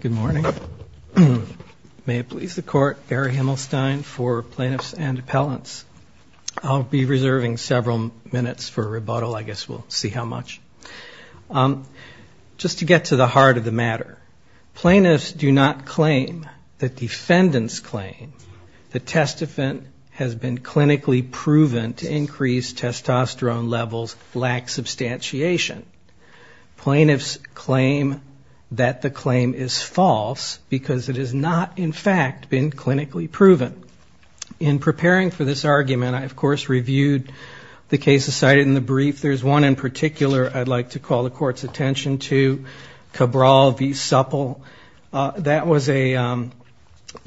Good morning. May it please the court, Barry Himmelstein for Plaintiffs and Appellants. I'll be reserving several minutes for a rebuttal. I guess we'll see how much. Just to get to the heart of the matter, plaintiffs do not claim that defendants claim the testifant has been clinically proven to increase the claim is false, because it has not in fact been clinically proven. In preparing for this argument, I of course reviewed the cases cited in the brief. There's one in particular I'd like to call the court's attention to, Cabral v. Supple. That was a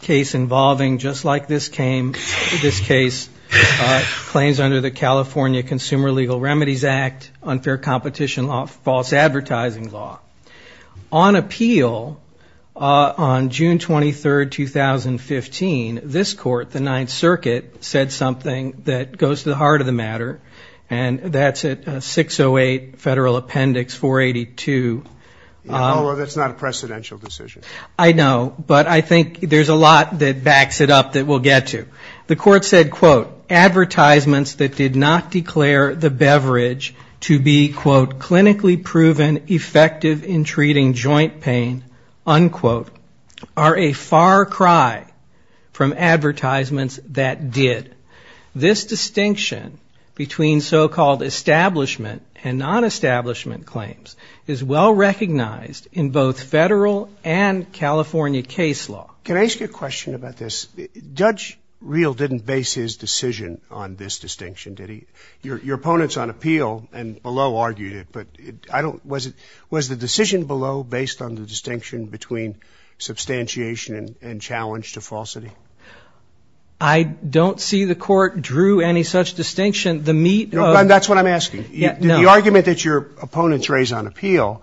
case involving, just like this case, claims under the California Consumer Legal Remedies Act, unfair competition law, false advertising law. On appeal, on June 23, 2015, this court, the Ninth Circuit, said something that goes to the heart of the matter, and that's at 608 Federal Appendix 482. That's not a precedential decision. I know, but I think there's a lot that backs it up that we'll get to. The court said, quote, advertisements that did not declare the beverage to be, quote, clinically proven effective in treating joint pain, unquote, are a far cry from advertisements that did. This distinction between so-called establishment and non-establishment claims is well recognized in both federal and California case law. Can I ask you a question about this? Judge Reel didn't base his decision on this distinction, did he? Your opponents on appeal and below argued it, but I don't was it was the decision below based on the distinction between substantiation and challenge to falsity? I don't see the court drew any such distinction. The meat of That's what I'm asking. The argument that your opponents raised on appeal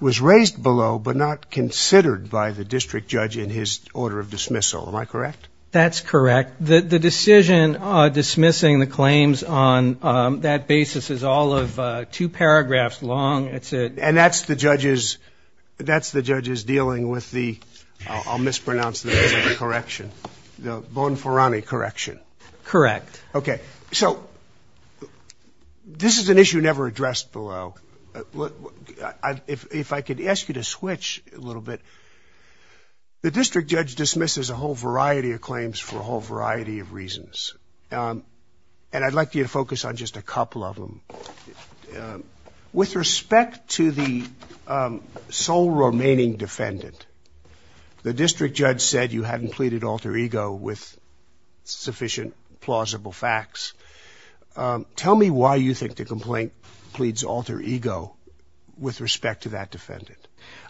was raised below, but not considered by the district judge in his order of dismissal. Am I correct? That's correct. The decision dismissing the claims on that basis is all of two paragraphs long. And that's the judge's dealing with the, I'll mispronounce the name, the correction, the Bonferroni correction? Correct. Okay. So this is an issue never addressed below. If I could ask you to switch a little bit. The district judge dismisses a whole variety of claims for a whole variety of reasons. And I'd like you to focus on just a couple of them. With respect to the sole remaining defendant, the district judge said you hadn't pleaded alter ego with sufficient plausible facts. Tell me why you think the complaint pleads alter ego with respect to that defendant.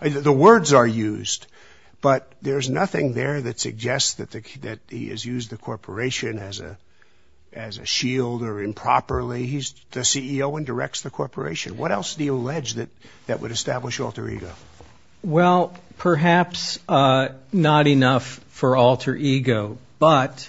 The words are used, but there's nothing there that suggests that he has used the corporation as a shield or improperly. He's the CEO and directs the corporation. What else did he allege that would establish alter ego? Well, perhaps not enough for alter ego, but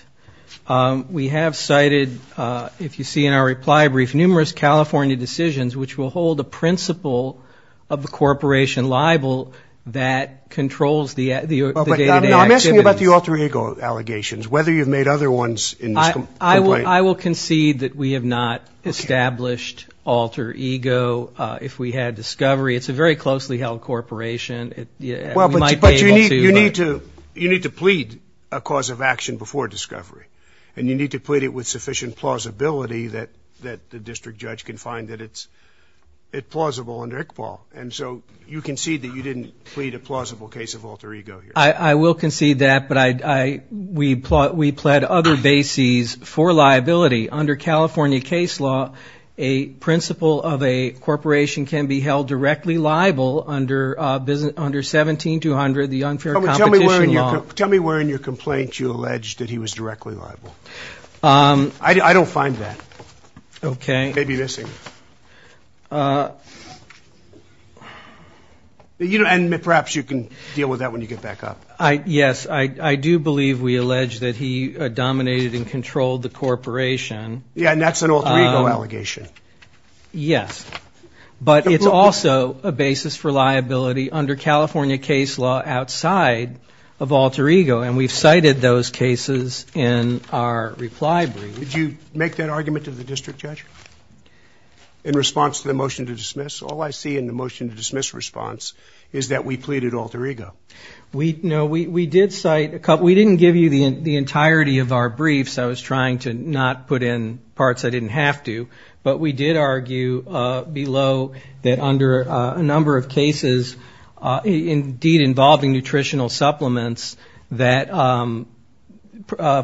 we have cited, if you see in our reply brief, numerous California decisions which will hold a principle of the corporation liable that controls the day-to-day activities. I'm asking about the alter ego allegations, whether you've made other ones in this complaint. I will concede that we have not established alter ego. If we had discovery, it's a very closely held corporation. Well, but you need to plead a cause of action before discovery, and you need to plead it with sufficient plausibility that the district judge can find that it's plausible under ICPAL. And so you concede that you didn't plead a plausible case of alter ego here. I will concede that, but we pled other bases for liability. Under California case law, a principle of a corporation can be held directly liable under 17-200, the unfair competition law. Tell me where in your complaint you allege that he was directly liable. I don't find that. Okay. Maybe missing. And perhaps you can deal with that when you get back up. Yes, I do believe we allege that he dominated and controlled the corporation. Yeah, and that's an alter ego allegation. Yes, but it's also a basis for liability under California case law outside of alter ego. And we've cited those cases in our reply brief. Did you make that argument to the district judge in response to the motion to dismiss? All I see in the motion to dismiss response is that we pleaded alter ego. No, we did cite a couple. We didn't give you the entirety of our briefs. I was trying to not put in parts I didn't have to. But we did argue below that under a number of cases, indeed involving nutritional supplements, that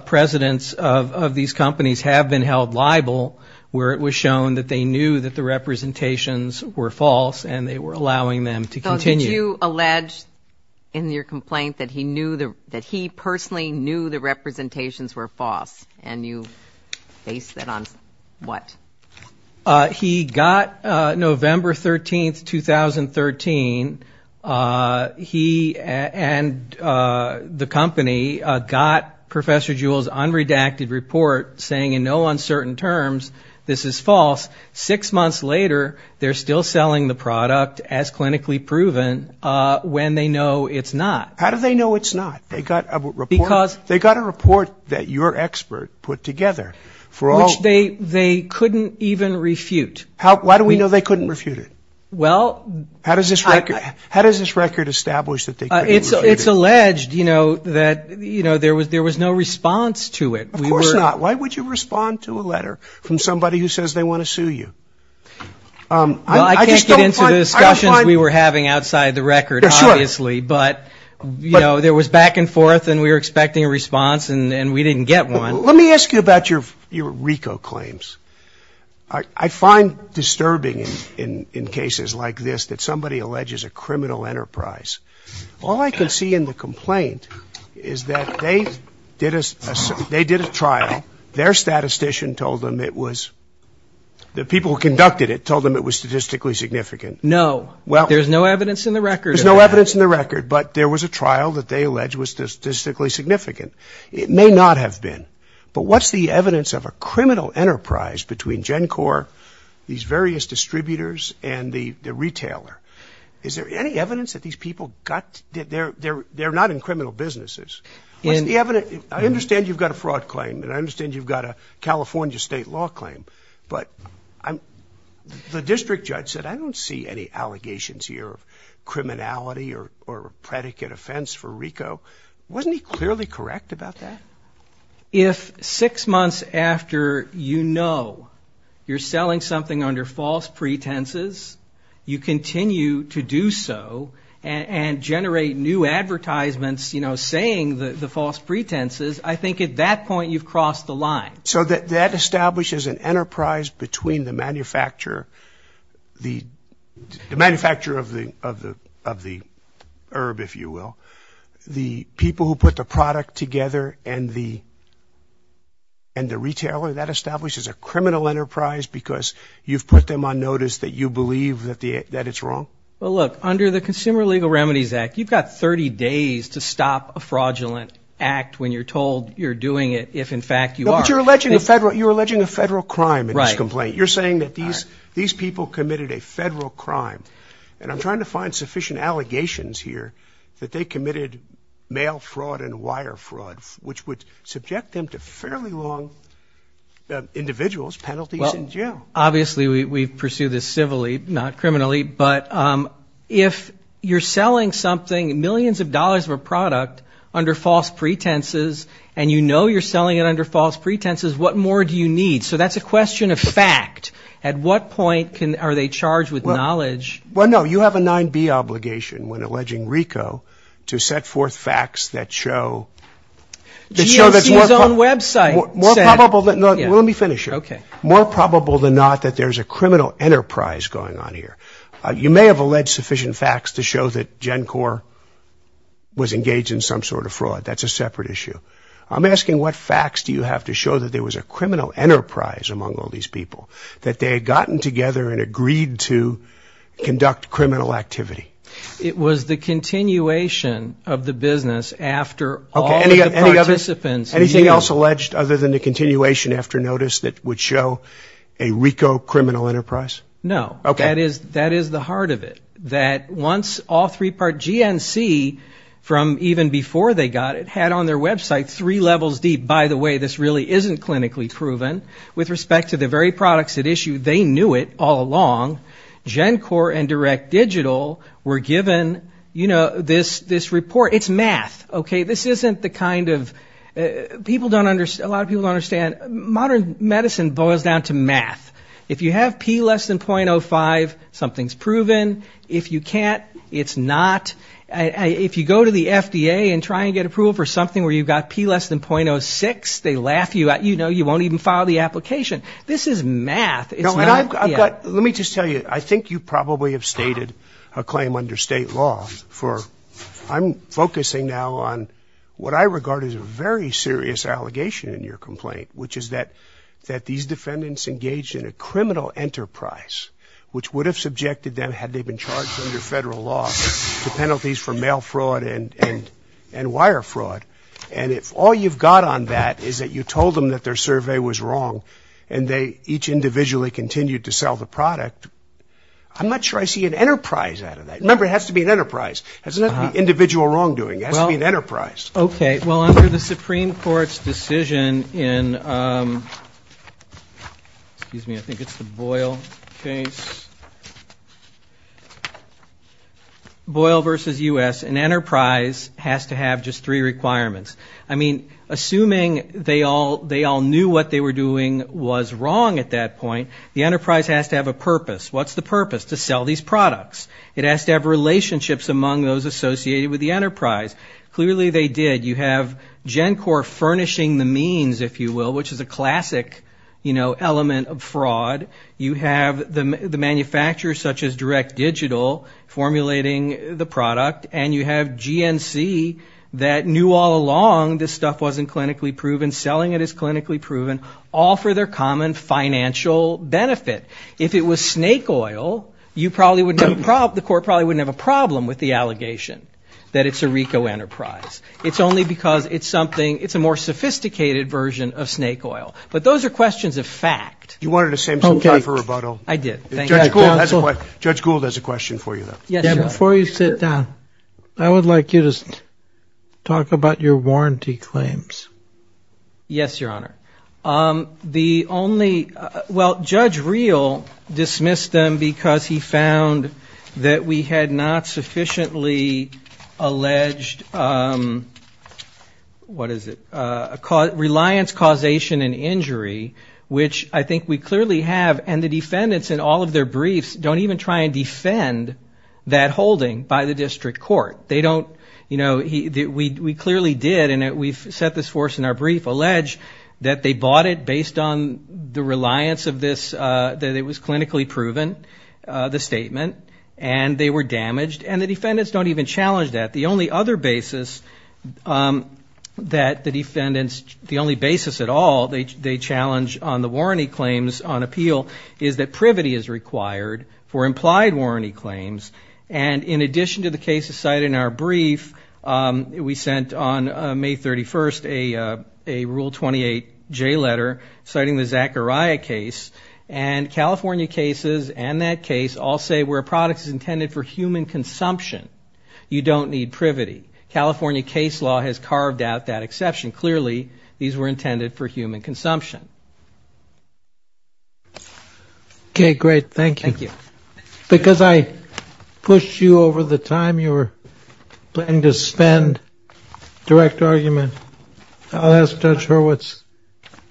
presidents of these companies have been held liable where it was shown that they knew that the representations were false and they were allowing them to continue. So did you allege in your complaint that he personally knew the representation was false and you based that on what? He got November 13th, 2013, he and the company got Professor Jewell's unredacted report saying in no uncertain terms this is false. Six months later, they're still selling the product as clinically proven when they know it's not. How do they know it's not? They got a report that your expert put together. Which they couldn't even refute. Why do we know they couldn't refute it? Well... How does this record establish that they couldn't refute it? It's alleged, you know, that there was no response to it. Of course not. Why would you respond to a letter from somebody who says they want to sue you? Well, I can't get into the discussions we were having outside the record, obviously. But, you know, there was back and forth and we were expecting a response and we didn't get one. Let me ask you about your RICO claims. I find disturbing in cases like this that somebody alleges a criminal enterprise. All I can see in the complaint is that they did a trial, their statistician told them it was, the people who conducted it told them it was statistically significant. No. Well... There's no evidence in the record. There's no evidence in the record, but there was a trial that they alleged was statistically significant. It may not have been. But what's the evidence of a criminal enterprise between GenCorp, these various distributors, and the retailer? Is there any evidence that these people got... They're not in criminal businesses. What's the evidence... I understand you've got a fraud claim and I understand you've got a California state law claim. But the district judge said, I don't see any allegations here of criminality or predicate offense for RICO. Wasn't he clearly correct about that? If six months after you know you're selling something under false pretenses, you continue to do so and generate new advertisements, you know, saying the false pretenses, I think at that point you've crossed the line. So that establishes an enterprise between the manufacturer, the manufacturer of the herb, if you will, the people who put the product together, and the retailer. That establishes a criminal enterprise because you've put them on notice that you believe that it's wrong? Well, look, under the Consumer Legal Remedies Act, you've got 30 days to stop a fraudulent act when you're told you're doing it if in fact you are. But you're alleging a federal crime in this complaint. You're saying that these people committed a federal crime. And I'm trying to find sufficient allegations here that they committed mail fraud and wire fraud, which would subject them to fairly long individuals, penalties in jail. Obviously we pursue this civilly, not criminally. But if you're selling something, millions of dollars of a product under false pretenses, and you know you're selling it under false pretenses, what more do you need? So that's a question of fact. At what point are they charged with knowledge? Well, no, you have a 9B obligation when alleging RICO to set forth facts that show... GNC's own website said... Let me finish here. Okay. More probable than not that there's a criminal enterprise going on here. You may have alleged sufficient facts to show that GenCorp was engaged in some sort of fraud. That's a separate issue. I'm asking what facts do you have to show that there was a criminal enterprise among all these people? That they had gotten together and agreed to conduct criminal activity? It was the continuation of the business after all the participants... Anything else alleged other than the continuation after notice that would show a RICO criminal enterprise? No. Okay. That is the heart of it. That once all three... GenCorp, GNC from even before they got it had on their website three levels deep. By the way, this really isn't clinically proven. With respect to the very products at issue, they knew it all along. GenCorp and Direct Digital were given, you know, this report. It's math. Okay. This isn't the kind of... People don't understand... A lot of people don't understand modern medicine boils down to math. If you have P less than .05, something's proven. If you can't, it's not. If you go to the FDA and try and get approval for something where you've got P less than .06, they laugh you out. You know, you won't even file the application. This is math. It's not... Let me just tell you, I think you probably have stated a claim under state law for... I'm focusing now on what I regard as a very serious allegation in your complaint, which is that these defendants engaged in a criminal enterprise, which would have subjected them, had they been charged under federal law, to penalties for mail fraud and wire fraud. And if all you've got on that is that you told them that their survey was wrong and they each individually continued to sell the product, I'm not sure I see an enterprise out of that. Remember, it has to be an enterprise. It doesn't have to be individual wrongdoing. It has to be an enterprise. Okay. Well, under the Supreme Court's decision in... Boyle v. U.S., an enterprise has to have just three requirements. I mean, assuming they all knew what they were doing was wrong at that point, the enterprise has to have a purpose. What's the purpose? To sell these products. It has to have relationships among those associated with the enterprise. Clearly they did. You have GenCorp furnishing the means, if you will, which is a classic, you know, element of fraud. You have the manufacturers such as Direct Digital formulating the product. And you have GenC that knew all along this stuff wasn't clinically proven. Selling it is clinically proven, all for their common financial benefit. If it was snake oil, you probably wouldn't have... The court probably wouldn't have a problem with the allegation that it's a RICO enterprise. It's only because it's something... It's a more sophisticated version of snake oil. But those are questions of fact. You wanted to save some time for rebuttal. I did. Thank you. Judge Gould has a question for you, though. Before you sit down, I would like you to talk about your warranty claims. Yes, Your Honor. The only... Well, Judge Reel dismissed them because he found that we had not sufficiently alleged... What is it? Reliance, causation, and injury, which I think was the We clearly have, and the defendants in all of their briefs don't even try and defend that holding by the district court. They don't... You know, we clearly did, and we've set this forth in our brief, allege that they bought it based on the reliance of this... That it was clinically proven, the statement. And they were damaged. And the defendants don't even challenge that. The only other basis that the defendants... On appeal is that privity is required for implied warranty claims. And in addition to the cases cited in our brief, we sent on May 31st a Rule 28J letter citing the Zachariah case. And California cases and that case all say where a product is intended for human consumption, you don't need privity. California case law has carved out that exception. Clearly, these were intended for human consumption. Okay. Great. Thank you. Thank you. Because I pushed you over the time you were planning to spend direct argument, I'll ask Judge Hurwitz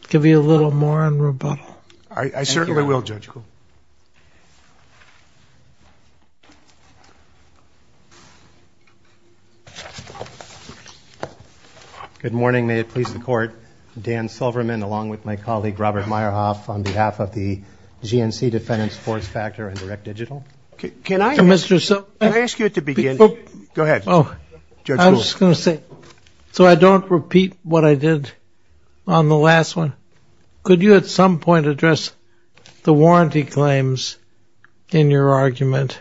to give you a little more on rebuttal. I certainly will, Judge. May it please the court. Dan Silverman, along with my colleague, Judge Hurwitz, and my colleague, Robert Meyerhoff, on behalf of the GNC Defendant Support Factor and Direct Digital. Can I ask you at the beginning? Go ahead. I'm just going to say, so I don't repeat what I did on the last one. Could you at some point address the warranty claims in your argument?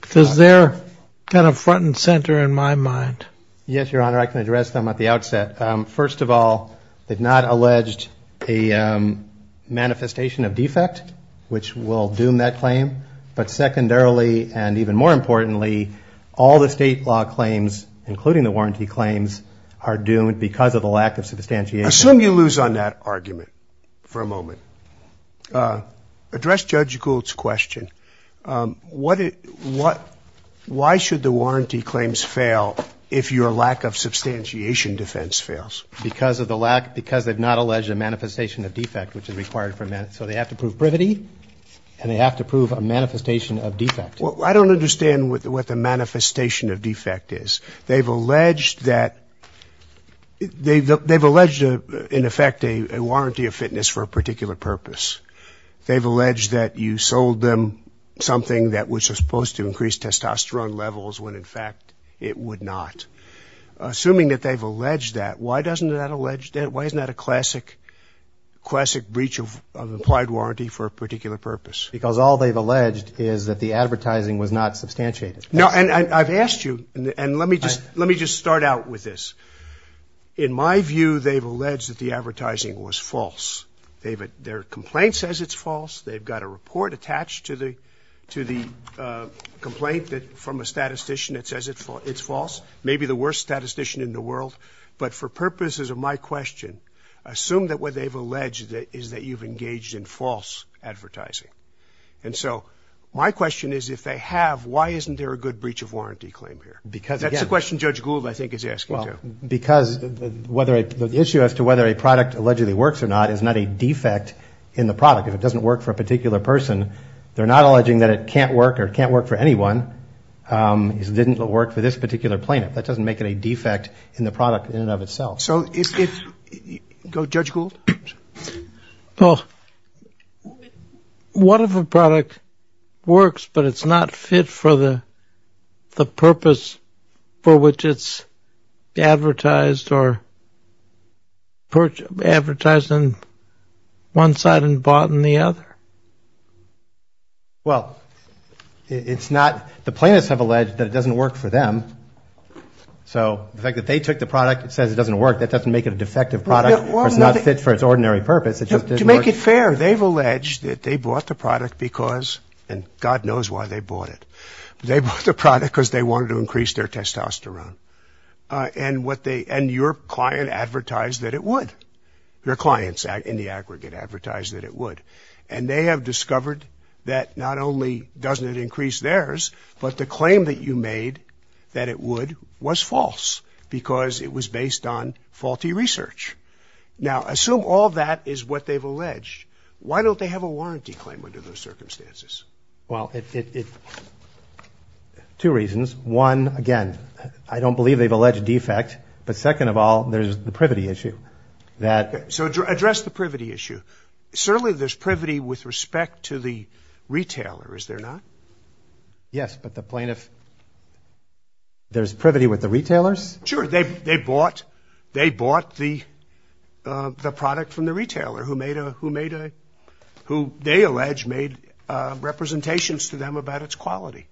Because they're kind of front and center in my mind. Yes, Your Honor. I can address them at the outset. First of all, they've not alleged a manifestation of defect, which will doom that claim. But secondarily, and even more importantly, all the state law claims, including the warranty claims, are doomed because of the lack of substantiation. Assume you lose on that argument for a moment. Address Judge Gould's question. Why should the warranty claims fail if your lack of substantiation fails? Because they've not alleged a manifestation of defect, which is required. So they have to prove privity, and they have to prove a manifestation of defect. I don't understand what the manifestation of defect is. They've alleged, in effect, a warranty of fitness for a particular purpose. They've alleged that you sold them something which was supposed to increase testosterone levels when, in fact, it would not. Assuming that they've alleged that, why isn't that a classic breach of implied warranty for a particular purpose? Because all they've alleged is that the advertising was not substantiated. No, and I've asked you, and let me just start out with this. In my view, they've alleged that the advertising was false. Their complaint says it's false. They've got a report attached to the complaint from a statistician that says it's false. Maybe the worst statistician in the world. But for purposes of my question, assume that what they've alleged is that you've engaged in false advertising. And so my question is, if they have, why isn't there a good breach of warranty claim here? Because that's the question Judge Gould, I think, is asking too. Well, because the issue as to whether a product allegedly works or not is not a defect in the product. If it doesn't work for a particular person, they're not alleging that it can't work or it can't work for anyone. It didn't work for this particular plaintiff. That doesn't make it a defect in the product in and of itself. So if, Judge Gould? Well, what if a product works, but it's not fit for the purpose for which it's advertised or advertised on one side and bought on the other? Well, it's not, the plaintiffs have alleged that it doesn't work for them. So the fact that they took the product, it says it doesn't work, that doesn't make it a defective product or it's not fit for its ordinary purpose. To make it fair, they've alleged that they bought the product because, and God knows why they bought it, but they bought the product because they wanted to increase their testosterone. And what they, and your client advertised that it would. Your clients in the aggregate advertised that it would. And they have discovered that not only doesn't it increase theirs, but the claim that you made that it would was false because it was based on faulty research. Now, assume all that is what they've alleged. Why don't they have a warranty claim under those circumstances? Well, it, two reasons. One, again, I don't believe they've alleged defect. But second of all, there's the privity issue. So address the privity issue. Certainly there's privity with respect to the retailer, is there not? Yes, but the plaintiff, there's privity with the retailers? Sure. They bought, they bought the product from the retailer who made a, who they allege made representations to them about its quality.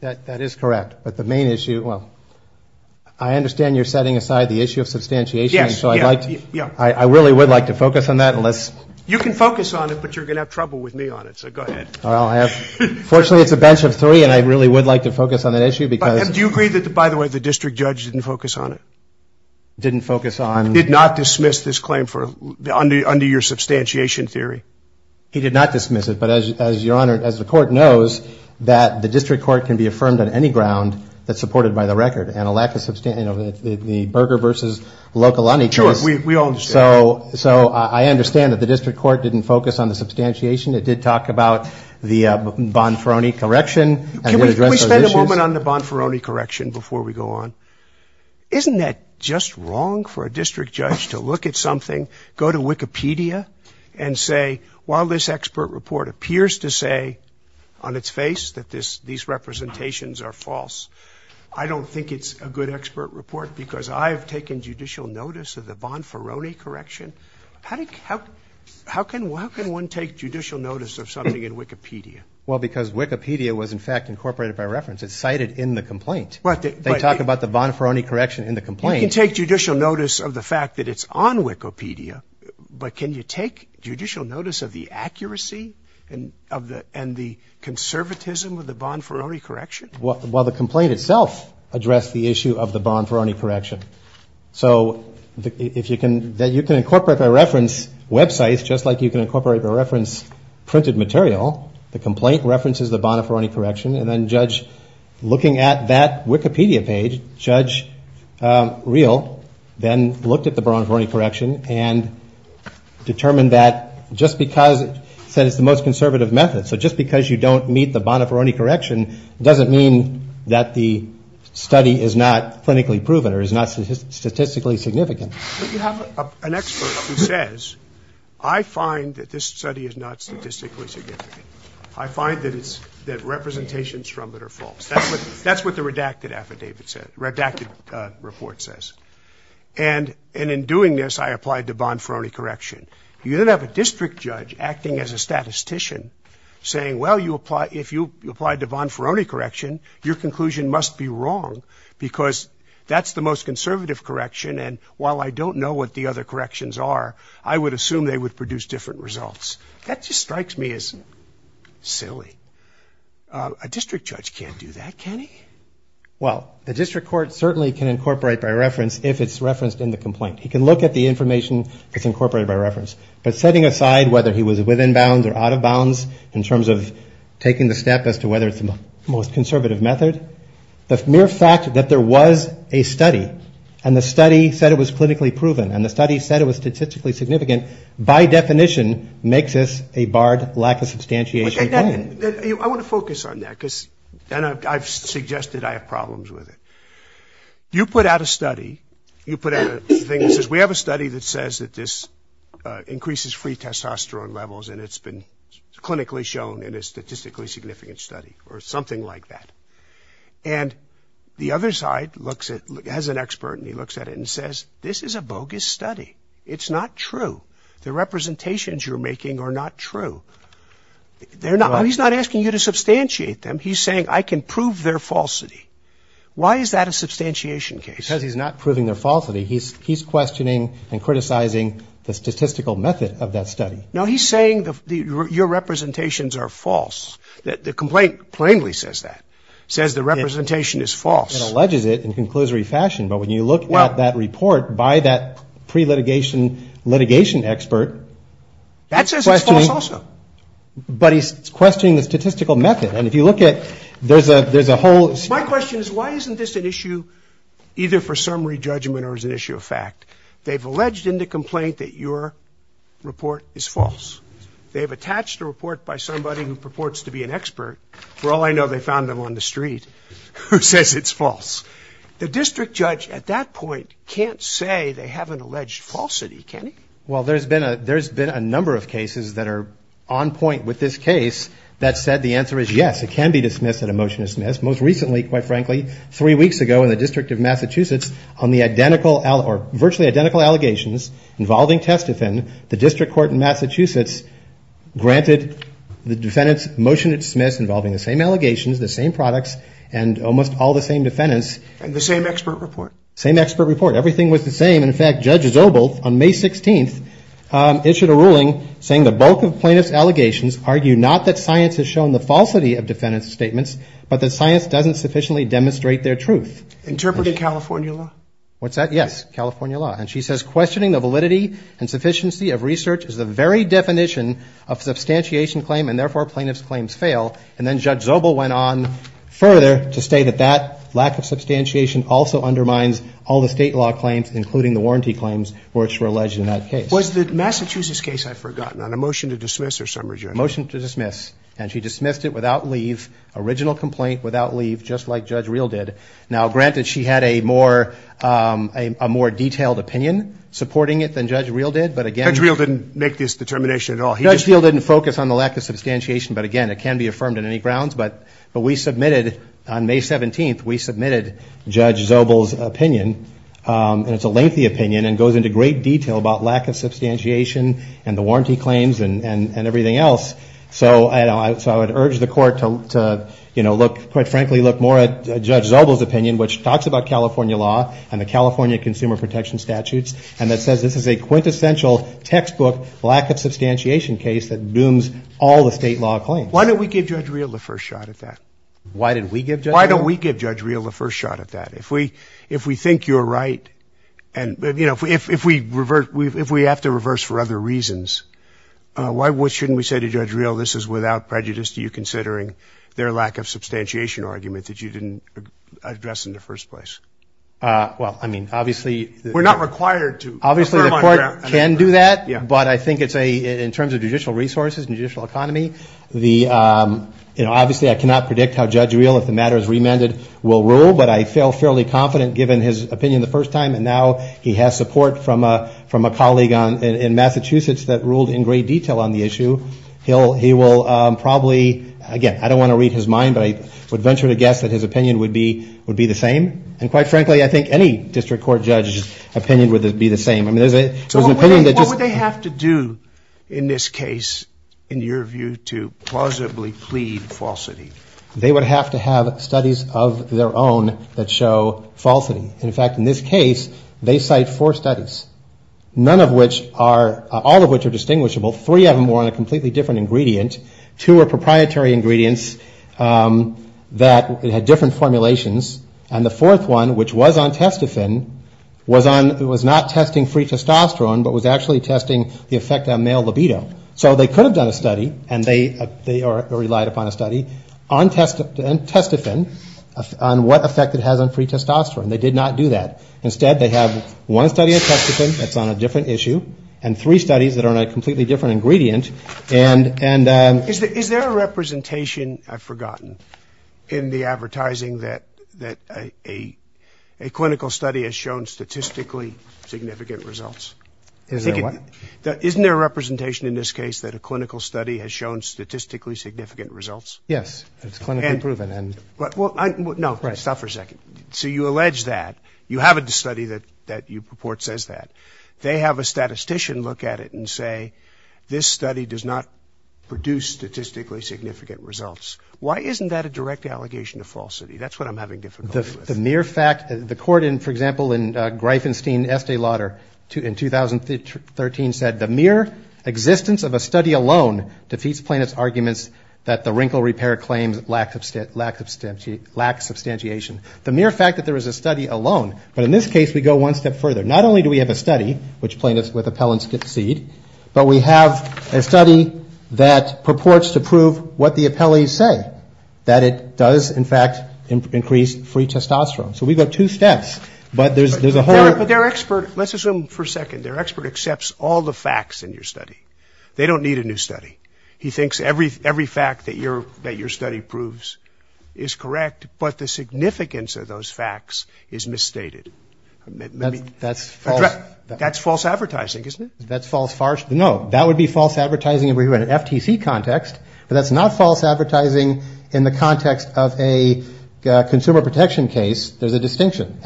That is correct. But the main issue, well, I understand you're setting aside the issue of substantiation. Yes. So I'd like to, I really would like to focus on that. You can focus on it, but you're going to have trouble with me on it. So go ahead. Well, fortunately it's a bench of three and I really would like to focus on that issue because. And do you agree that, by the way, the district judge didn't focus on it? Didn't focus on. Did not dismiss this claim for, under your substantiation theory? He did not dismiss it. But as your Honor, as the court knows, that the district court can be affirmed on any ground that's supported by the record. And a lack of, you know, the Berger versus Locolani case. Sure. We all understand. So I understand that the district court didn't focus on the substantiation. It did talk about the Bonferroni correction. Can we spend a moment on the Bonferroni correction before we go on? Isn't that just wrong for a district judge to look at something, go to Wikipedia and say, while this expert report appears to say on its face that these representations are false, I don't think it's a good expert report because I have taken judicial notice of the Bonferroni correction. How can one take judicial notice of something in Wikipedia? Well, because Wikipedia was, in fact, incorporated by reference. It's cited in the complaint. They talk about the Bonferroni correction in the complaint. You can take judicial notice of the fact that it's on Wikipedia, but can you take judicial notice of the accuracy and the conservatism of the Bonferroni correction? Well, the complaint itself addressed the issue of the Bonferroni correction. So you can incorporate by reference websites, just like you can incorporate by reference printed material. The complaint references the Bonferroni correction. And then looking at that Wikipedia page, Judge Real then looked at the Bonferroni correction and determined that just because it said it's the most conservative method. So just because you don't meet the Bonferroni correction doesn't mean that the study is not clinically proven or is not statistically significant. But you have an expert who says, I find that this study is not statistically significant. I find that representations from it are false. That's what the redacted report says. And in doing this, I applied the Bonferroni correction. You didn't have a district judge acting as a statistician saying, well, if you applied the Bonferroni correction, your conclusion must be wrong because that's the most conservative correction. And while I don't know what the other corrections are, I would assume they would produce different results. That just strikes me as silly. A district judge can't do that, can he? Well, the district court certainly can incorporate by reference if it's referenced in the complaint. He can look at the information that's incorporated by reference. But setting aside whether he was within bounds or out of bounds in terms of taking the step as to whether it's the most conservative method, the mere fact that there was a study and the study said it was clinically proven and the study said it was statistically significant by definition makes this a barred lack of substantiation. I want to focus on that because I've suggested I have problems with it. You put out a study. You put out a thing that says we have a study that increases free testosterone levels and it's been clinically shown in a statistically significant study or something like that. And the other side has an expert and he looks at it and says this is a bogus study. It's not true. The representations you're making are not true. He's not asking you to substantiate them. He's saying I can prove their falsity. Why is that a substantiation case? Because he's not proving their falsity. He's questioning and criticizing the statistical method of that study. Now, he's saying your representations are false. The complaint plainly says that. It says the representation is false. It alleges it in a conclusory fashion. But when you look at that report by that pre-litigation litigation expert... That says it's false also. But he's questioning the statistical method. And if you look at... My question is why isn't this an issue either for summary judgment or is it an issue of fact? They've alleged in the complaint that your report is false. They've attached a report by somebody who purports to be an expert. For all I know, they found them on the street who says it's false. The district judge at that point can't say they have an alleged falsity. Can he? Well, there's been a number of cases that are on point with this case that said the answer is yes, it can be dismissed and a motion is dismissed. Most recently, quite frankly, three virtually identical allegations involving Testofen, the district court in Massachusetts, granted the defendant's motion to dismiss involving the same allegations, the same products, and almost all the same defendants. And the same expert report. Same expert report. Everything was the same. In fact, Judge Zobel, on May 16th, issued a ruling saying the bulk of plaintiff's allegations argue not that science has shown the falsity of defendant's statements, but that science doesn't sufficiently demonstrate their truth. Interpreted California law? What's that? Yes. California law. And she says, questioning the validity and sufficiency of research is the very definition of substantiation claim, and therefore, plaintiff's claims fail. And then Judge Zobel went on further to say that that lack of substantiation also undermines all the state law claims, including the warranty claims which were alleged in that case. Was the Massachusetts case, I had forgotten. On a motion to dismiss or summary judgment? Motion to dismiss. And she dismissed it without leave. Original complaint without leave, just like Judge Real did. Now, granted, she had a more detailed opinion supporting it than Judge Real did, but again. Judge Real didn't make this determination at all. Judge Real didn't focus on the lack of substantiation, but again, it can be affirmed on any grounds. But we submitted, on May 17th, we submitted Judge Zobel's opinion, and it's a lengthy opinion and goes into great detail about lack of substantiation and the warranty claims and everything else. So I would urge the court to, you know, look, quite frankly, look more at Judge Zobel's opinion, which talks about California law and the California consumer protection statutes, and that says this is a quintessential textbook lack of substantiation case that dooms all the state law claims. Why don't we give Judge Real the first shot at that? Why did we give Judge Real? Why don't we give Judge Real the first shot at that? If we think you're right, and, you know, if we have to reverse for other reasons, why shouldn't we say to Judge Real, this is without prejudice to you considering their lack of substantiation argument that you didn't address in the first place? Well, I mean, obviously... We're not required to... Obviously the court can do that, but I think it's a, in terms of judicial resources and judicial economy, the, you know, obviously I cannot predict how Judge Real, if the matter is remanded, will rule, but I feel fairly confident, given his opinion the first time, and now he has support from a colleague in Massachusetts that ruled in great detail on the issue, he will probably, again, I don't want to read his mind, but I would venture to guess that his opinion would be the same. And quite frankly, I think any district court judge's opinion would be the same. I mean, there's an opinion that just... So what would they have to do, in this case, in your view, to plausibly plead falsity? They would have to have studies of their own that show falsity. In fact, in this case, they cite four studies, none of which are, all of which are distinguishable, three of them were on a completely different ingredient, two were proprietary ingredients that had different formulations, and the fourth one, which was on testophen, was on, was not testing free testosterone, but was actually testing the effect on male libido. So they could have done a study, and they relied upon a study, on testophen, on what effect it has on free testosterone. They did not do that. Instead, they have one study of testophen that's on a different issue, and three studies that are on a completely different ingredient, and... Is there a representation, I've forgotten, in the advertising that a clinical study has shown statistically significant results? Is there a what? Isn't there a representation in this case that a clinical study has shown statistically significant results? Yes. It's clinically proven, and... Well, no, stop for a second. So you allege that, you have a study that you purport says that. They have a statistician look at it and say, this study does not produce statistically significant results. Why isn't that a direct allegation of falsity? That's what I'm having difficulty with. The mere fact... The court, for example, in Greifenstein, Estee Lauder, in 2013 said, the mere existence of a study alone defeats plaintiff's arguments that the wrinkle repair claims lack substantiation. The mere fact that there is a study alone... But in this case, we go one step further. Not only do we have a study, which plaintiffs with appellants concede, but we have a study that purports to prove what the does, in fact, increase free testosterone. So we go two steps. But there's a whole... But their expert, let's assume for a second, their expert accepts all the facts in your study. They don't need a new study. He thinks every fact that your study proves is correct, but the significance of those facts is misstated. That's false... That's false advertising, isn't That's false... No, that would be false advertising if we were in an FTC context, but that's not false advertising in the context of a consumer protection case, there's a distinction.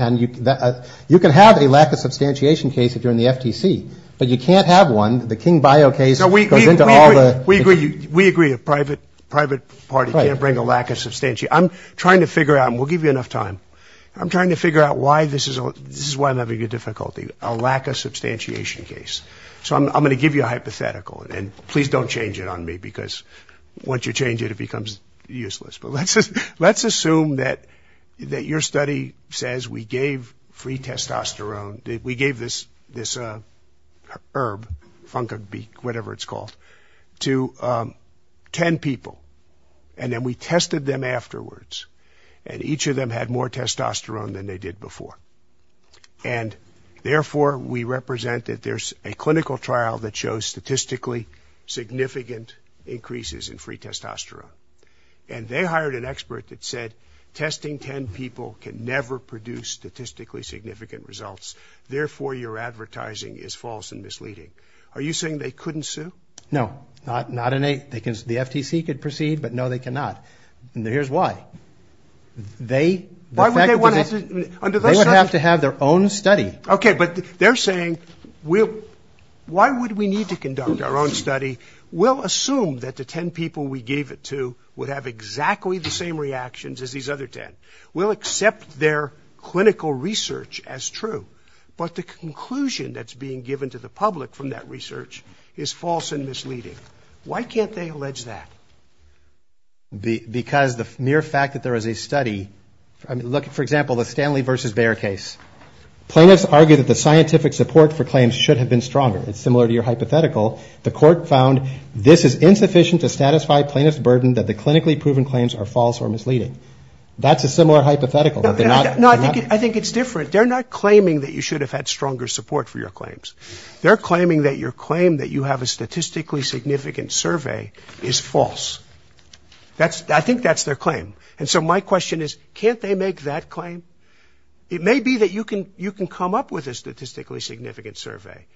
You can have a lack of substantiation case if you're in the FTC, but you can't have one. The King Bio case goes into all the... We agree. We agree. A private party can't bring a lack of substantiation. I'm trying to figure out, and we'll give you enough time. I'm trying to figure out why this is... This is why I'm having a difficulty. A lack of substantiation case. So I'm going to give you a hypothetical, and please don't change it on me, because once you change it, it becomes useless. But let's just... Let's assume that your study says we gave free testosterone, we gave this herb, fungicide, whatever it's called, to ten people, and then we tested them afterwards, and each of them had more testosterone than they did before. And therefore, we represent that there's a clinical trial that shows statistically significant increases in free testosterone. Et cetera. And they hired an expert that said, testing ten people can never produce statistically significant results. Therefore, your advertising is false and misleading. Are you saying they couldn't sue? No. Not in a... The FTC could proceed, but no, they cannot. And here's why. They... Why would they want to... Under those circumstances... They would have to have their own study. Okay, but they're saying, we'll... Why would we need to conduct our own study? We'll assume that the ten people we gave it to would have exactly the same reactions as these other ten. We'll accept their clinical research as true, but the conclusion that's being given to the public from that research is false and misleading. Why can't they allege that? Because the mere fact that there is a study... I mean, look, for example, the Stanley versus Bayer case. Plaintiffs argue that the scientific support for claims should have been stronger. It's similar to your hypothetical. The court found this is by plaintiff's burden that the clinically proven claims are false or misleading. That's a similar hypothetical. They're not... No, I think it's different. They're not claiming that you should have had stronger support for your claims. They're claiming that your claim that you have a statistically significant survey is false. That's... I think that's their claim. And so my question is, can't they make that claim? It may be that you can come up with a statistically significant survey,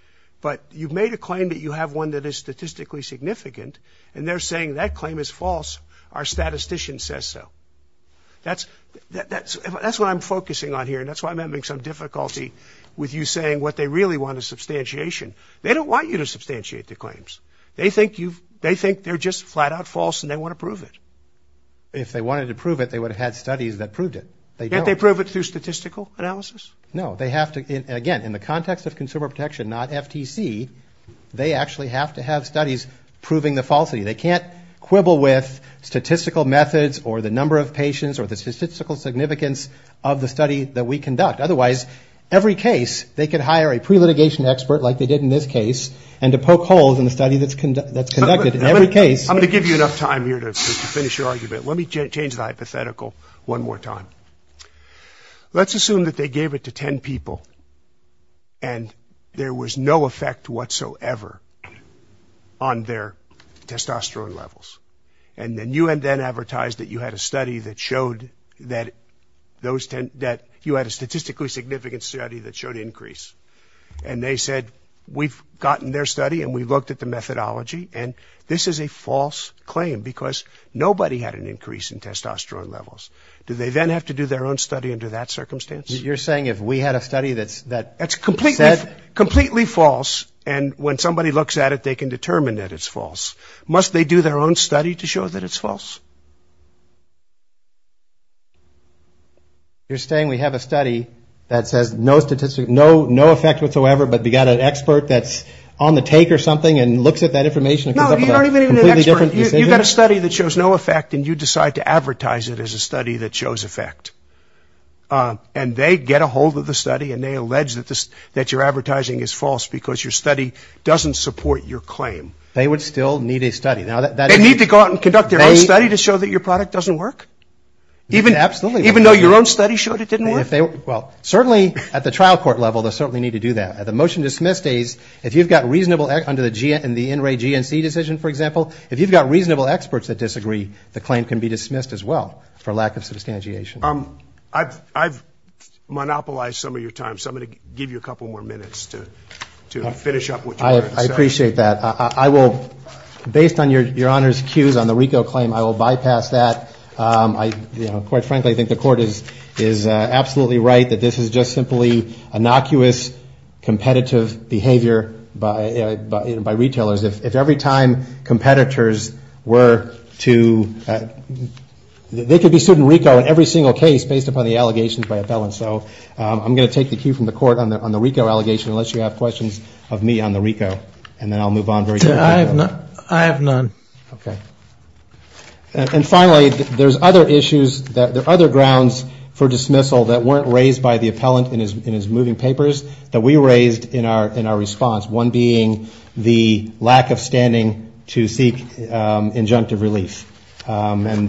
but you've made a claim that you have one that is statistically significant, and they're saying that claim is false. Our statistician says so. That's what I'm focusing on here, and that's why I'm having some difficulty with you saying what they really want is substantiation. They don't want you to substantiate their claims. They think you've... They think they're just flat-out false, and they want to prove it. If they wanted to prove it, they would have had studies that proved it. They don't. Can't they prove it through statistical analysis? No. They have to... Again, in the context of consumer protection, not FTC, they actually have to have studies proving the falsity. They can't quibble with statistical methods, or the number of patients, or the statistical significance of the study that we conduct. Otherwise, every case, they could hire a pre-litigation expert like they did in this case, and to poke holes in the study that's conducted. In every case... I'm going to give you enough time here to finish your argument. Let me change the hypothetical they gave it to 10 people, and they gave it to 10 people, and they gave it to 10 people, and they gave it to 10 people, and they gave it to 10 people, and then you went and advertised that you had a study that showed that you had a statistically significant study that showed increase. And they said, we've gotten their study, and we looked at the methodology, and this is a false claim. Because nobody had an increase in testosterone levels. Do they then have to do their own study under that circumstance? You're saying if we had a study their own study? You can do their own study. You can determine that it's false. They can determine that it's false, and then you go and advertise that there was an increase in testosterone. Do they do their own study to show that it's false? You're saying we have a study that says no effect whatsoever, but we've got an expert that's on the take or something, and comes up with a completely different decision? No, you don't even have an expert. You've got a study that shows no effect, and you decide to advertise it as a study that shows effect. And they get a hold of the They would still need a study. Now, I'm not saying that that's a bad thing. I'm just saying that that's a bad thing. I'm not saying that that's a bad thing. They need to go out and conduct their own study to show that your product doesn't work? Absolutely. Even though your own study showed it didn't work? Well, certainly at the trial court level, they certainly need to do that. At the motion-dismiss days, if you've got reasonable experts under the NRA GNC decision, for example, if you've got reasonable experts that disagree, the claim can be dismissed as well for lack of substantiation. I've monopolized some of your up what you wanted to say. I appreciate that. I will, based on your discussion, I'm going to give you a couple more minutes to finish up what you wanted to say. Your Honor's cues on the RICO claim, I will bypass that. Quite frankly, I think the Court is absolutely right that this is just simply innocuous, competitive behavior by retailers. If every time competitors were to, they could be sued in RICO in every single case based upon the allegations by appellants. So I'm going to take the cue from the Court on the RICO allegation unless you I have none. I have none. I have none. I have none. I have none. I have none. I have none. I have none. I have none. I have none. I have none.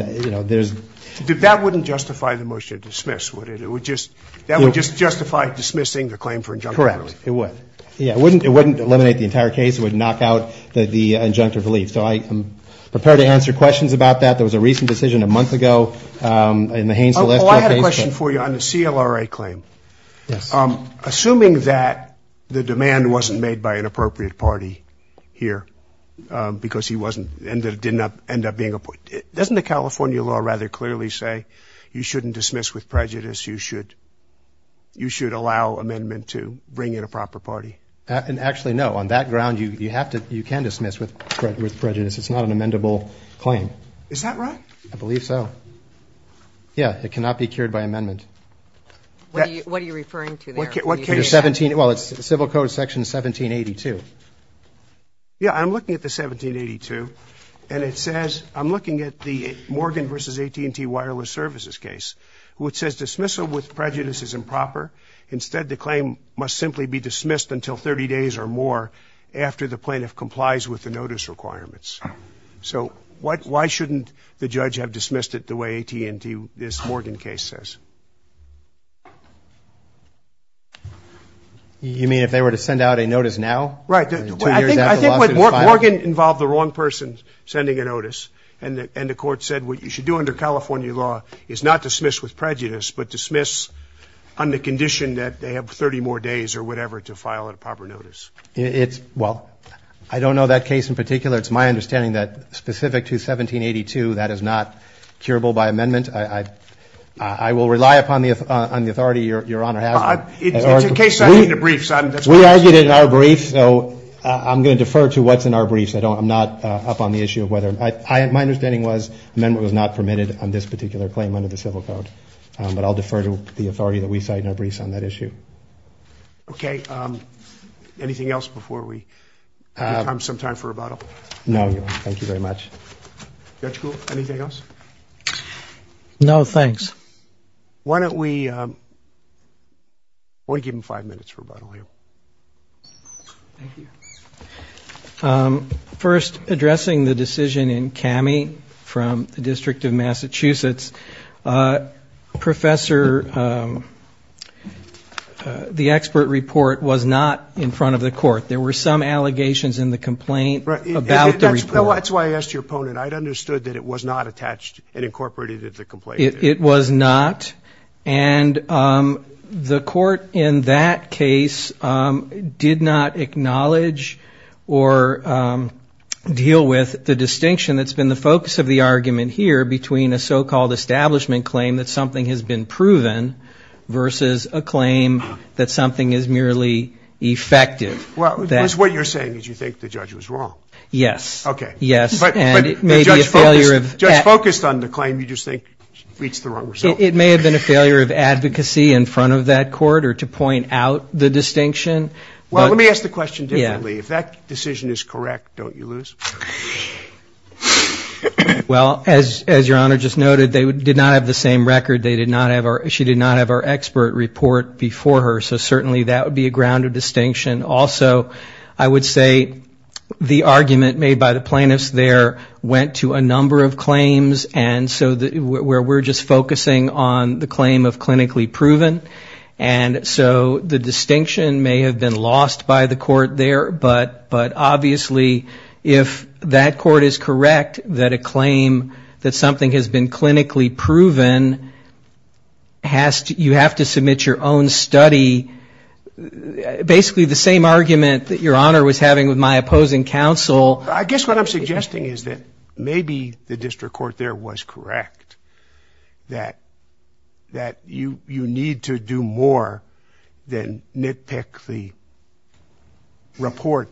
I have none. Prepare to answer questions about that. There was a recent decision a month ago and the Haines. I had a question for you on the seal or a claim. Assuming that the demand wasn't made by an appropriate party here because he wasn't ending it didn't up and up being up. It doesn't the California law rather clearly say you shouldn't dismiss with prejudice. You should you should allow amendment to bring in a proper party and actually, no, on that ground, you have to. You can dismiss with prejudice. It's not an amendable claim. Is that right? I believe so. Yeah, it cannot be cured by amendment. What are you referring to? Well, it's civil code section 1782. Yeah, I'm looking at the 1782. And it says I'm looking at the Morgan versus AT&T Wireless Services case, which says dismissal with prejudice is improper. Instead, the claim must simply be dismissed until 30 days or more after the plaintiff complies with the notice requirements. So why shouldn't the judge have dismissed it the way AT&T this Morgan case says? You mean if they were to send out a notice now? Right. I think Morgan involved the wrong person sending a notice. And the court said what you should do under California law is not dismiss with prejudice, but dismiss on the condition that they have 30 more days or whatever to file a proper notice. Well, I don't know that case in particular. It's my understanding that specific to 1782, that is not curable by amendment. I will rely upon the authority Your Honor has. It's a case I made in the briefs. We argued it in our briefs, so I'm going to defer to what's in our briefs. I'm not up on the issue of whether. My understanding was amendment was not permitted on this particular claim under the civil code. But I'll defer to the authority that we cite in our briefs on that issue. Okay. Anything else before we have some time for rebuttal? No, Your Honor. Thank you very much. Judge Gould, anything else? No, thanks. Why don't we give him five minutes for rebuttal here. Thank you. First, addressing the decision in Cammie from the District of Massachusetts, Professor, the expert report was not in front of the court. There were some allegations in the complaint about the report. That's why I asked your opponent. I understood that it was not attached and incorporated into the complaint. It was not. And the court in that case did not acknowledge or deal with the distinction that's been the focus of the argument here between a so-called establishment claim that something has been proven versus a claim that something is merely effective. What you're saying is you think the judge was wrong. Yes. Okay. Yes. But the judge focused on the claim. You just think she reached the wrong result. It may have been a failure of advocacy in front of that court or to point out the distinction. Well, let me ask the question differently. If that decision is correct, don't you lose? Well, as Your Honor just noted, they did not have the same record. She did not have our expert report before her, so certainly that would be a grounded distinction. Also, I would say the argument made by the plaintiffs there went to a number of claims where we're just focusing on the claim of clinically proven. And so the distinction may have been lost by the court there, but obviously if that court is correct that a claim that something has been clinically proven, you have to submit your own study, basically the same argument that Your Honor was having with my opposing counsel. I guess what I'm suggesting is that maybe the district court there was correct, that you need to do more than nitpick the report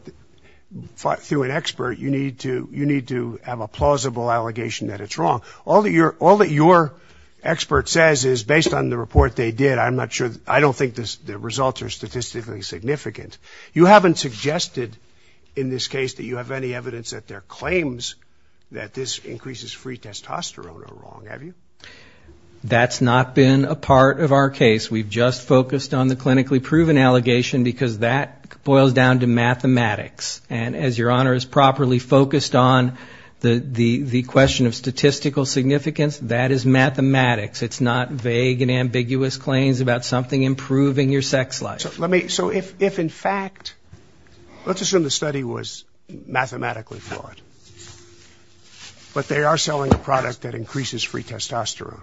through an expert. You need to have a plausible allegation that it's wrong. All that your expert says is based on the report they did, I don't think the results are statistically significant. You haven't suggested in this case that you have any evidence that there are claims that this increases free testosterone are wrong, have you? That's not been a part of our case. We've just focused on the clinically proven allegation because that boils down to mathematics. And as Your Honor is properly focused on, the question of statistical significance, that is mathematics. It's not vague and ambiguous claims about something improving your sex life. So if in fact, let's assume the study was mathematically flawed, but they are selling a product that increases free testosterone,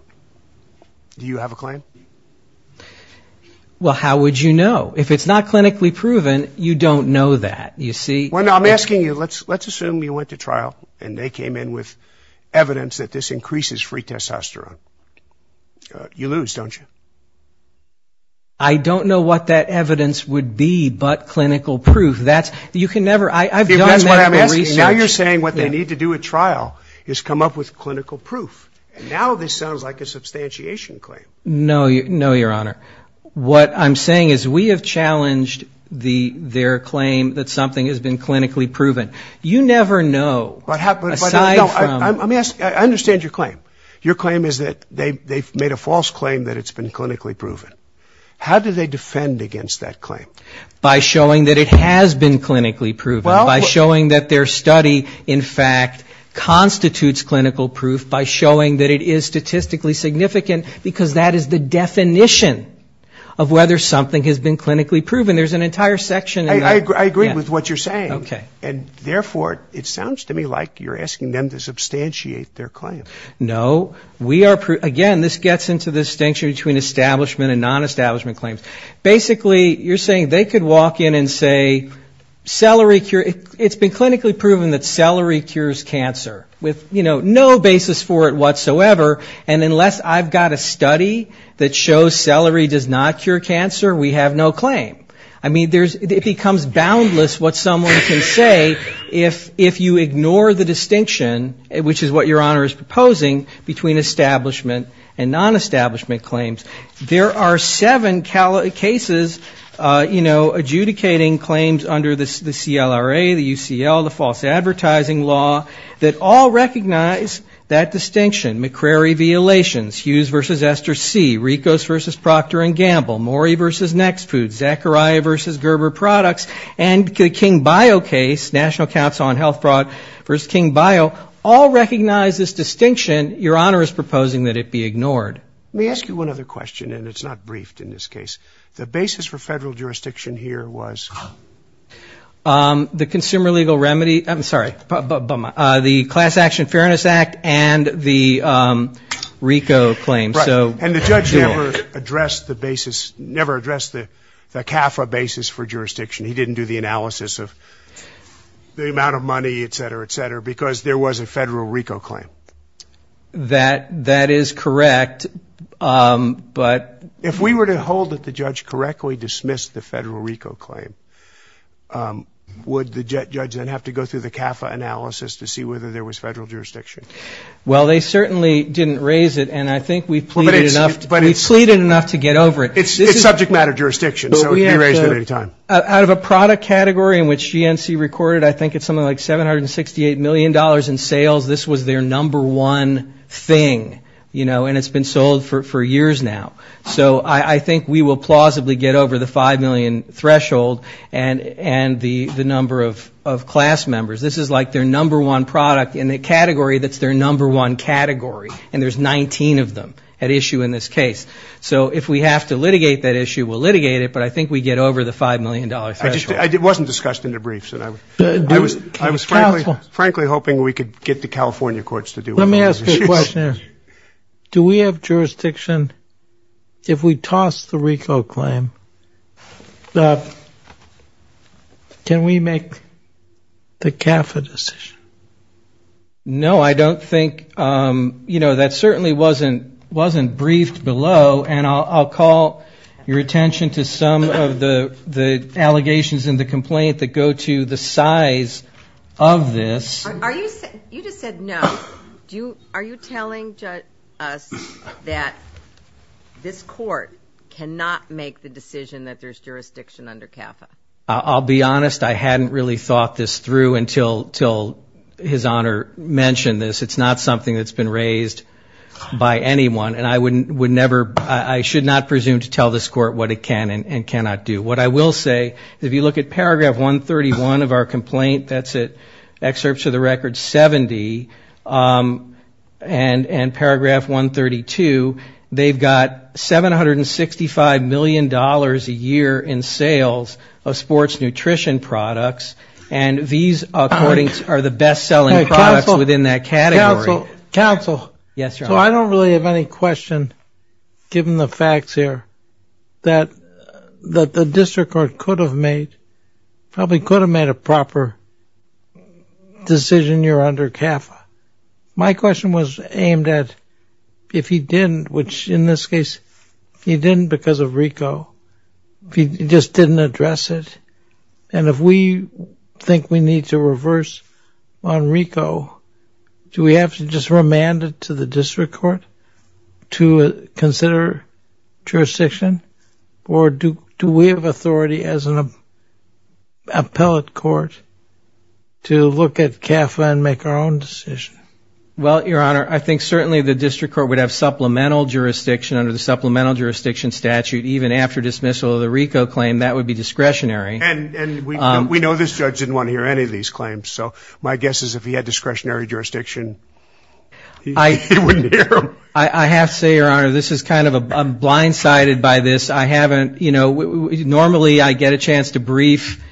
do you have a claim? Well, how would you know? If it's not clinically proven, you don't know that. I'm asking you, let's assume you went to trial and they came in with evidence that this increases free testosterone. You lose, don't you? I don't know what that evidence would be but clinical proof. You can never, I've done medical research. Now you're saying what they need to do at trial is come up with clinical proof. Now this sounds like a substantiation claim. No, Your Honor. What I'm saying is we have challenged their claim that something has been clinically proven. You never know. I understand your claim. Your claim is that they've made a false claim that it's been clinically proven. How do they defend against that claim? By showing that it has been clinically proven, by showing that their study in fact constitutes clinical proof, by showing that it is statistically significant because that is the definition of whether something has been clinically proven. There's an entire section in there. I agree with what you're saying. And therefore, it sounds to me like you're asking them to substantiate their claim. No. Again, this gets into the distinction between establishment and nonestablishment claims. Basically, you're saying they could walk in and say celery cure, it's been clinically proven that celery cures cancer with, you know, no basis for it whatsoever. And unless I've got a study that shows celery does not cure cancer, we have no claim. I mean, it becomes boundless what someone can say if you ignore the distinction, which is what Your Honor is proposing, between establishment and nonestablishment claims. There are seven cases, you know, adjudicating claims under the CLRA, the UCL, the false advertising law, that all recognize that distinction. McCrary violations, Hughes v. Esther C., Ricos v. Proctor & Gamble, Mori v. Next Food, Zachariah v. Gerber Products, and the King-Bio case, National Council on Health Fraud v. King-Bio, all recognize this distinction. Your Honor is proposing that it be ignored. Let me ask you one other question, and it's not briefed in this case. The basis for federal jurisdiction here was? The consumer legal remedy, I'm sorry, the Class Action Fairness Act and the RICO claim. Right. And the judge never addressed the basis, never addressed the CAFRA basis for jurisdiction. He didn't do the analysis of the amount of money, et cetera, et cetera, because there was a federal RICO claim. That is correct, but... If we were to hold that the judge correctly dismissed the federal RICO claim, would the judge then have to go through the CAFRA analysis to see whether there was federal jurisdiction? Well, they certainly didn't raise it, and I think we've pleaded enough to get over it. It's subject matter jurisdiction, so it can be raised at any time. Out of a product category in which GNC recorded I think it's something like $768 million in sales, this was their number one thing, you know, and it's been sold for years now. So I think we will plausibly get over the $5 million threshold and the number of class members. This is like their number one product in the category that's their number one category, and there's 19 of them at issue in this case. So if we have to litigate that issue, we'll litigate it, but I think we get over the $5 million threshold. It wasn't discussed in the briefs. I was frankly hoping we could get the California courts to do it. Let me ask you a question. Do we have jurisdiction if we toss the RICO claim, can we make the CAFRA decision? No, I don't think, you know, that certainly wasn't briefed below, and I'll call your attention to some of the allegations in the complaint that go to the size of this. You just said no. Are you telling us that this court cannot make the decision that there's jurisdiction under CAFRA? I'll be honest, I hadn't really thought this through until his Honor mentioned this. It's not something that's been raised by anyone, and I would never, I should not presume to tell this court what it can and cannot do. What I will say, if you look at paragraph 131 of our complaint, that's an excerpt to the record 70, and paragraph 132, they've got $765 million a year in sales, sports nutrition products, and these are the best selling products within that category. Counsel, so I don't really have any question, given the facts here, that the district court could have made, probably could have made a proper decision here under CAFRA. My question was aimed at if he didn't, which in this case he didn't because of RICO, if he just didn't address it, and if we think we need to reverse on RICO, do we have to just remand it to the district court to consider jurisdiction, or do we have authority as an appellate court to look at CAFRA and make our own decision? Well, your Honor, I think certainly the district court would have supplemental jurisdiction under the supplemental jurisdiction statute, even after dismissal of the RICO claim, that would be discretionary. And we know this judge didn't want to hear any of these claims, so my guess is if he had discretionary jurisdiction, he wouldn't hear them. I have to say, your Honor, this is kind of, I'm blindsided by this, I haven't, you know, normally I get a chance to brief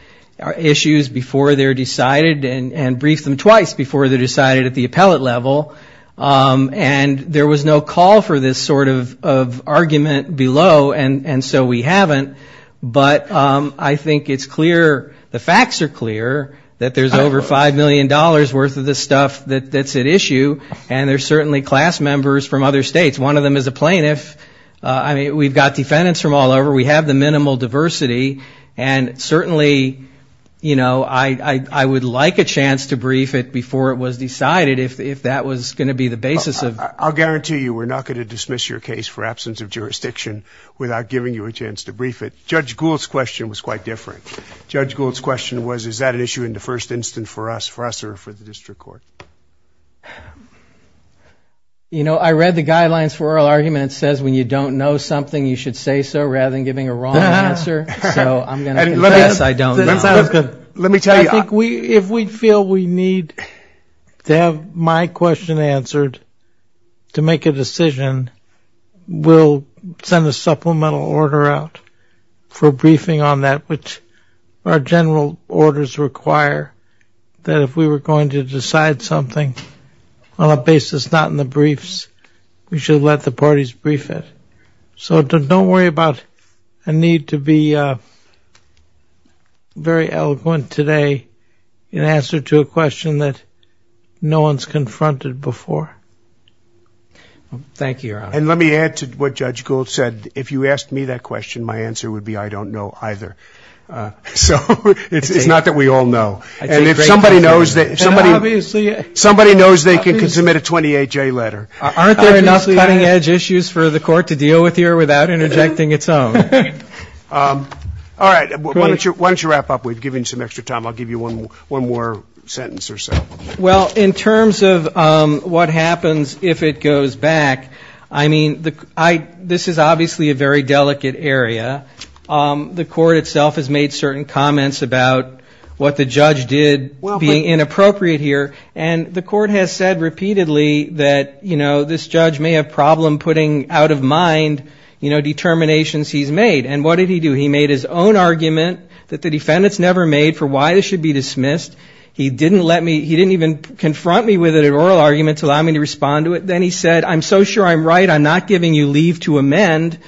issues before they're decided and brief them twice before they're decided at the appellate level, and there was no call for this sort of argument below, and so we haven't. But I think it's clear, the facts are clear, that there's over $5 million worth of this stuff that's at issue, and there's certainly class members from other states. One of them is a plaintiff, I mean, we've got defendants from all over, we have the minimal diversity, and certainly, you know, I would like a chance to brief it before it was decided, if that was going to be the basis of. I'll guarantee you we're not going to dismiss your case for absence of jurisdiction without giving you a chance to brief it. Judge Gould's question was quite different. Judge Gould's question was, is that an issue in the first instance for us, for us or for the district court? You know, I read the guidelines for oral arguments, it says when you don't know something, you should say so, I'm going to confess I don't know. If we feel we need to have my question answered to make a decision, we'll send a supplemental order out for briefing on that, which our general orders require that if we were going to decide something on a basis not in the briefs, we should let the parties brief it. Very eloquent today in answer to a question that no one's confronted before. Thank you, Your Honor. And let me add to what Judge Gould said, if you asked me that question, my answer would be I don't know either. So it's not that we all know. And if somebody knows, somebody knows they can submit a 28-J letter. Aren't there enough cutting-edge issues for the court to deal with here without interjecting its own? All right. Why don't you wrap up? We've given you some extra time. I'll give you one more sentence or so. Well, in terms of what happens if it goes back, I mean, this is obviously a very delicate area. The court itself has made certain comments about what the judge did being inappropriate here. And the court has said repeatedly that, you know, this judge may have problem putting out of mind, you know, determinations he's made. He said, you know, this should be dismissed. He didn't even confront me with an oral argument to allow me to respond to it. Then he said, I'm so sure I'm right, I'm not giving you leave to amend.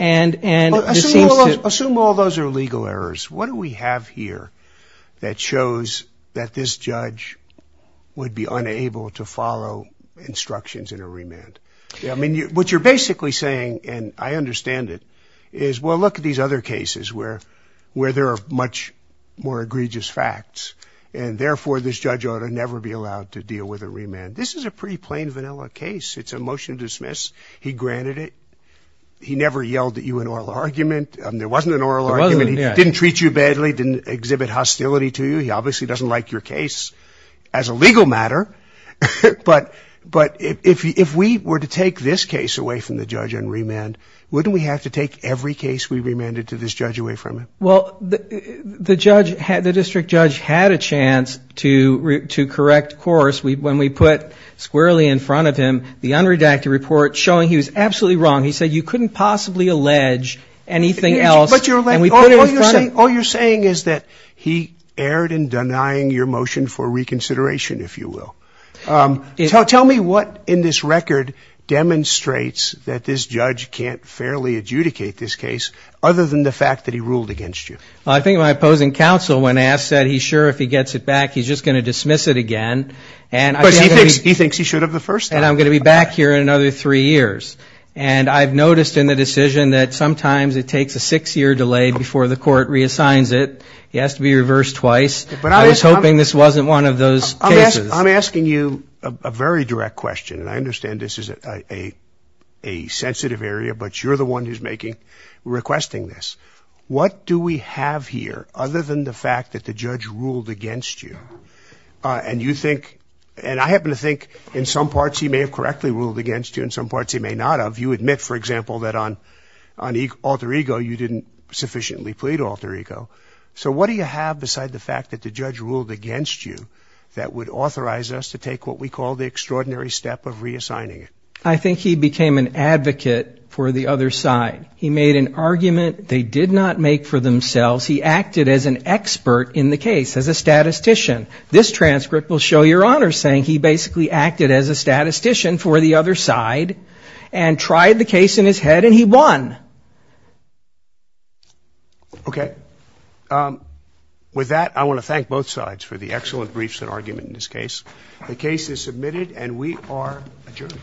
Assume all those are legal errors. What do we have here that shows that this judge would be unable to follow instructions in a remand? I mean, what you're basically saying, and I understand it, is, well, look at these other cases where there are much more egregious facts, and therefore this judge ought to never be allowed to deal with a remand. This is a pretty plain vanilla case. It's a motion to dismiss. He granted it. He never yelled at you in oral argument. There wasn't an oral argument. He didn't treat you badly, didn't exhibit hostility to you. He obviously doesn't like your case as a legal matter. But if we were to take this case away from the judge on remand, wouldn't we have to take every case we remanded to this judge away from him? Well, the judge, the district judge had a chance to correct course when we put squarely in front of him the unredacted report showing he was absolutely wrong. He said you couldn't possibly allege anything else, and we put it in front of him. All you're saying is that he erred in denying your motion for reconsideration, if you will. Tell me what in this record demonstrates that this judge can't fairly adjudicate this case, other than the fact that he ruled against it. Well, I think my opposing counsel, when asked that, he's sure if he gets it back, he's just going to dismiss it again. Because he thinks he should have the first time. And I'm going to be back here in another three years. And I've noticed in the decision that sometimes it takes a six-year delay before the court reassigns it. He has to be reversed twice. I was hoping this wasn't one of those cases. I'm asking you a very direct question, and I understand this is a sensitive area, but you're the one who's requesting this. What do we have here, other than the fact that the judge ruled against you? And you think, and I happen to think in some parts he may have correctly ruled against you, in some parts he may not have. You admit, for example, that on alter ego you didn't sufficiently plead alter ego. So what do you have beside the fact that the judge ruled against you that would authorize us to take what we call the extraordinary step of reassigning it? I think he became an advocate for the other side. He made an argument they did not make for themselves. He acted as an expert in the case, as a statistician. This transcript will show your honor saying he basically acted as a statistician for the other side and tried the case in his head, and he won. Okay. With that, I want to thank both sides for the excellent briefs and argument in this case. The case is submitted, and we are adjourned.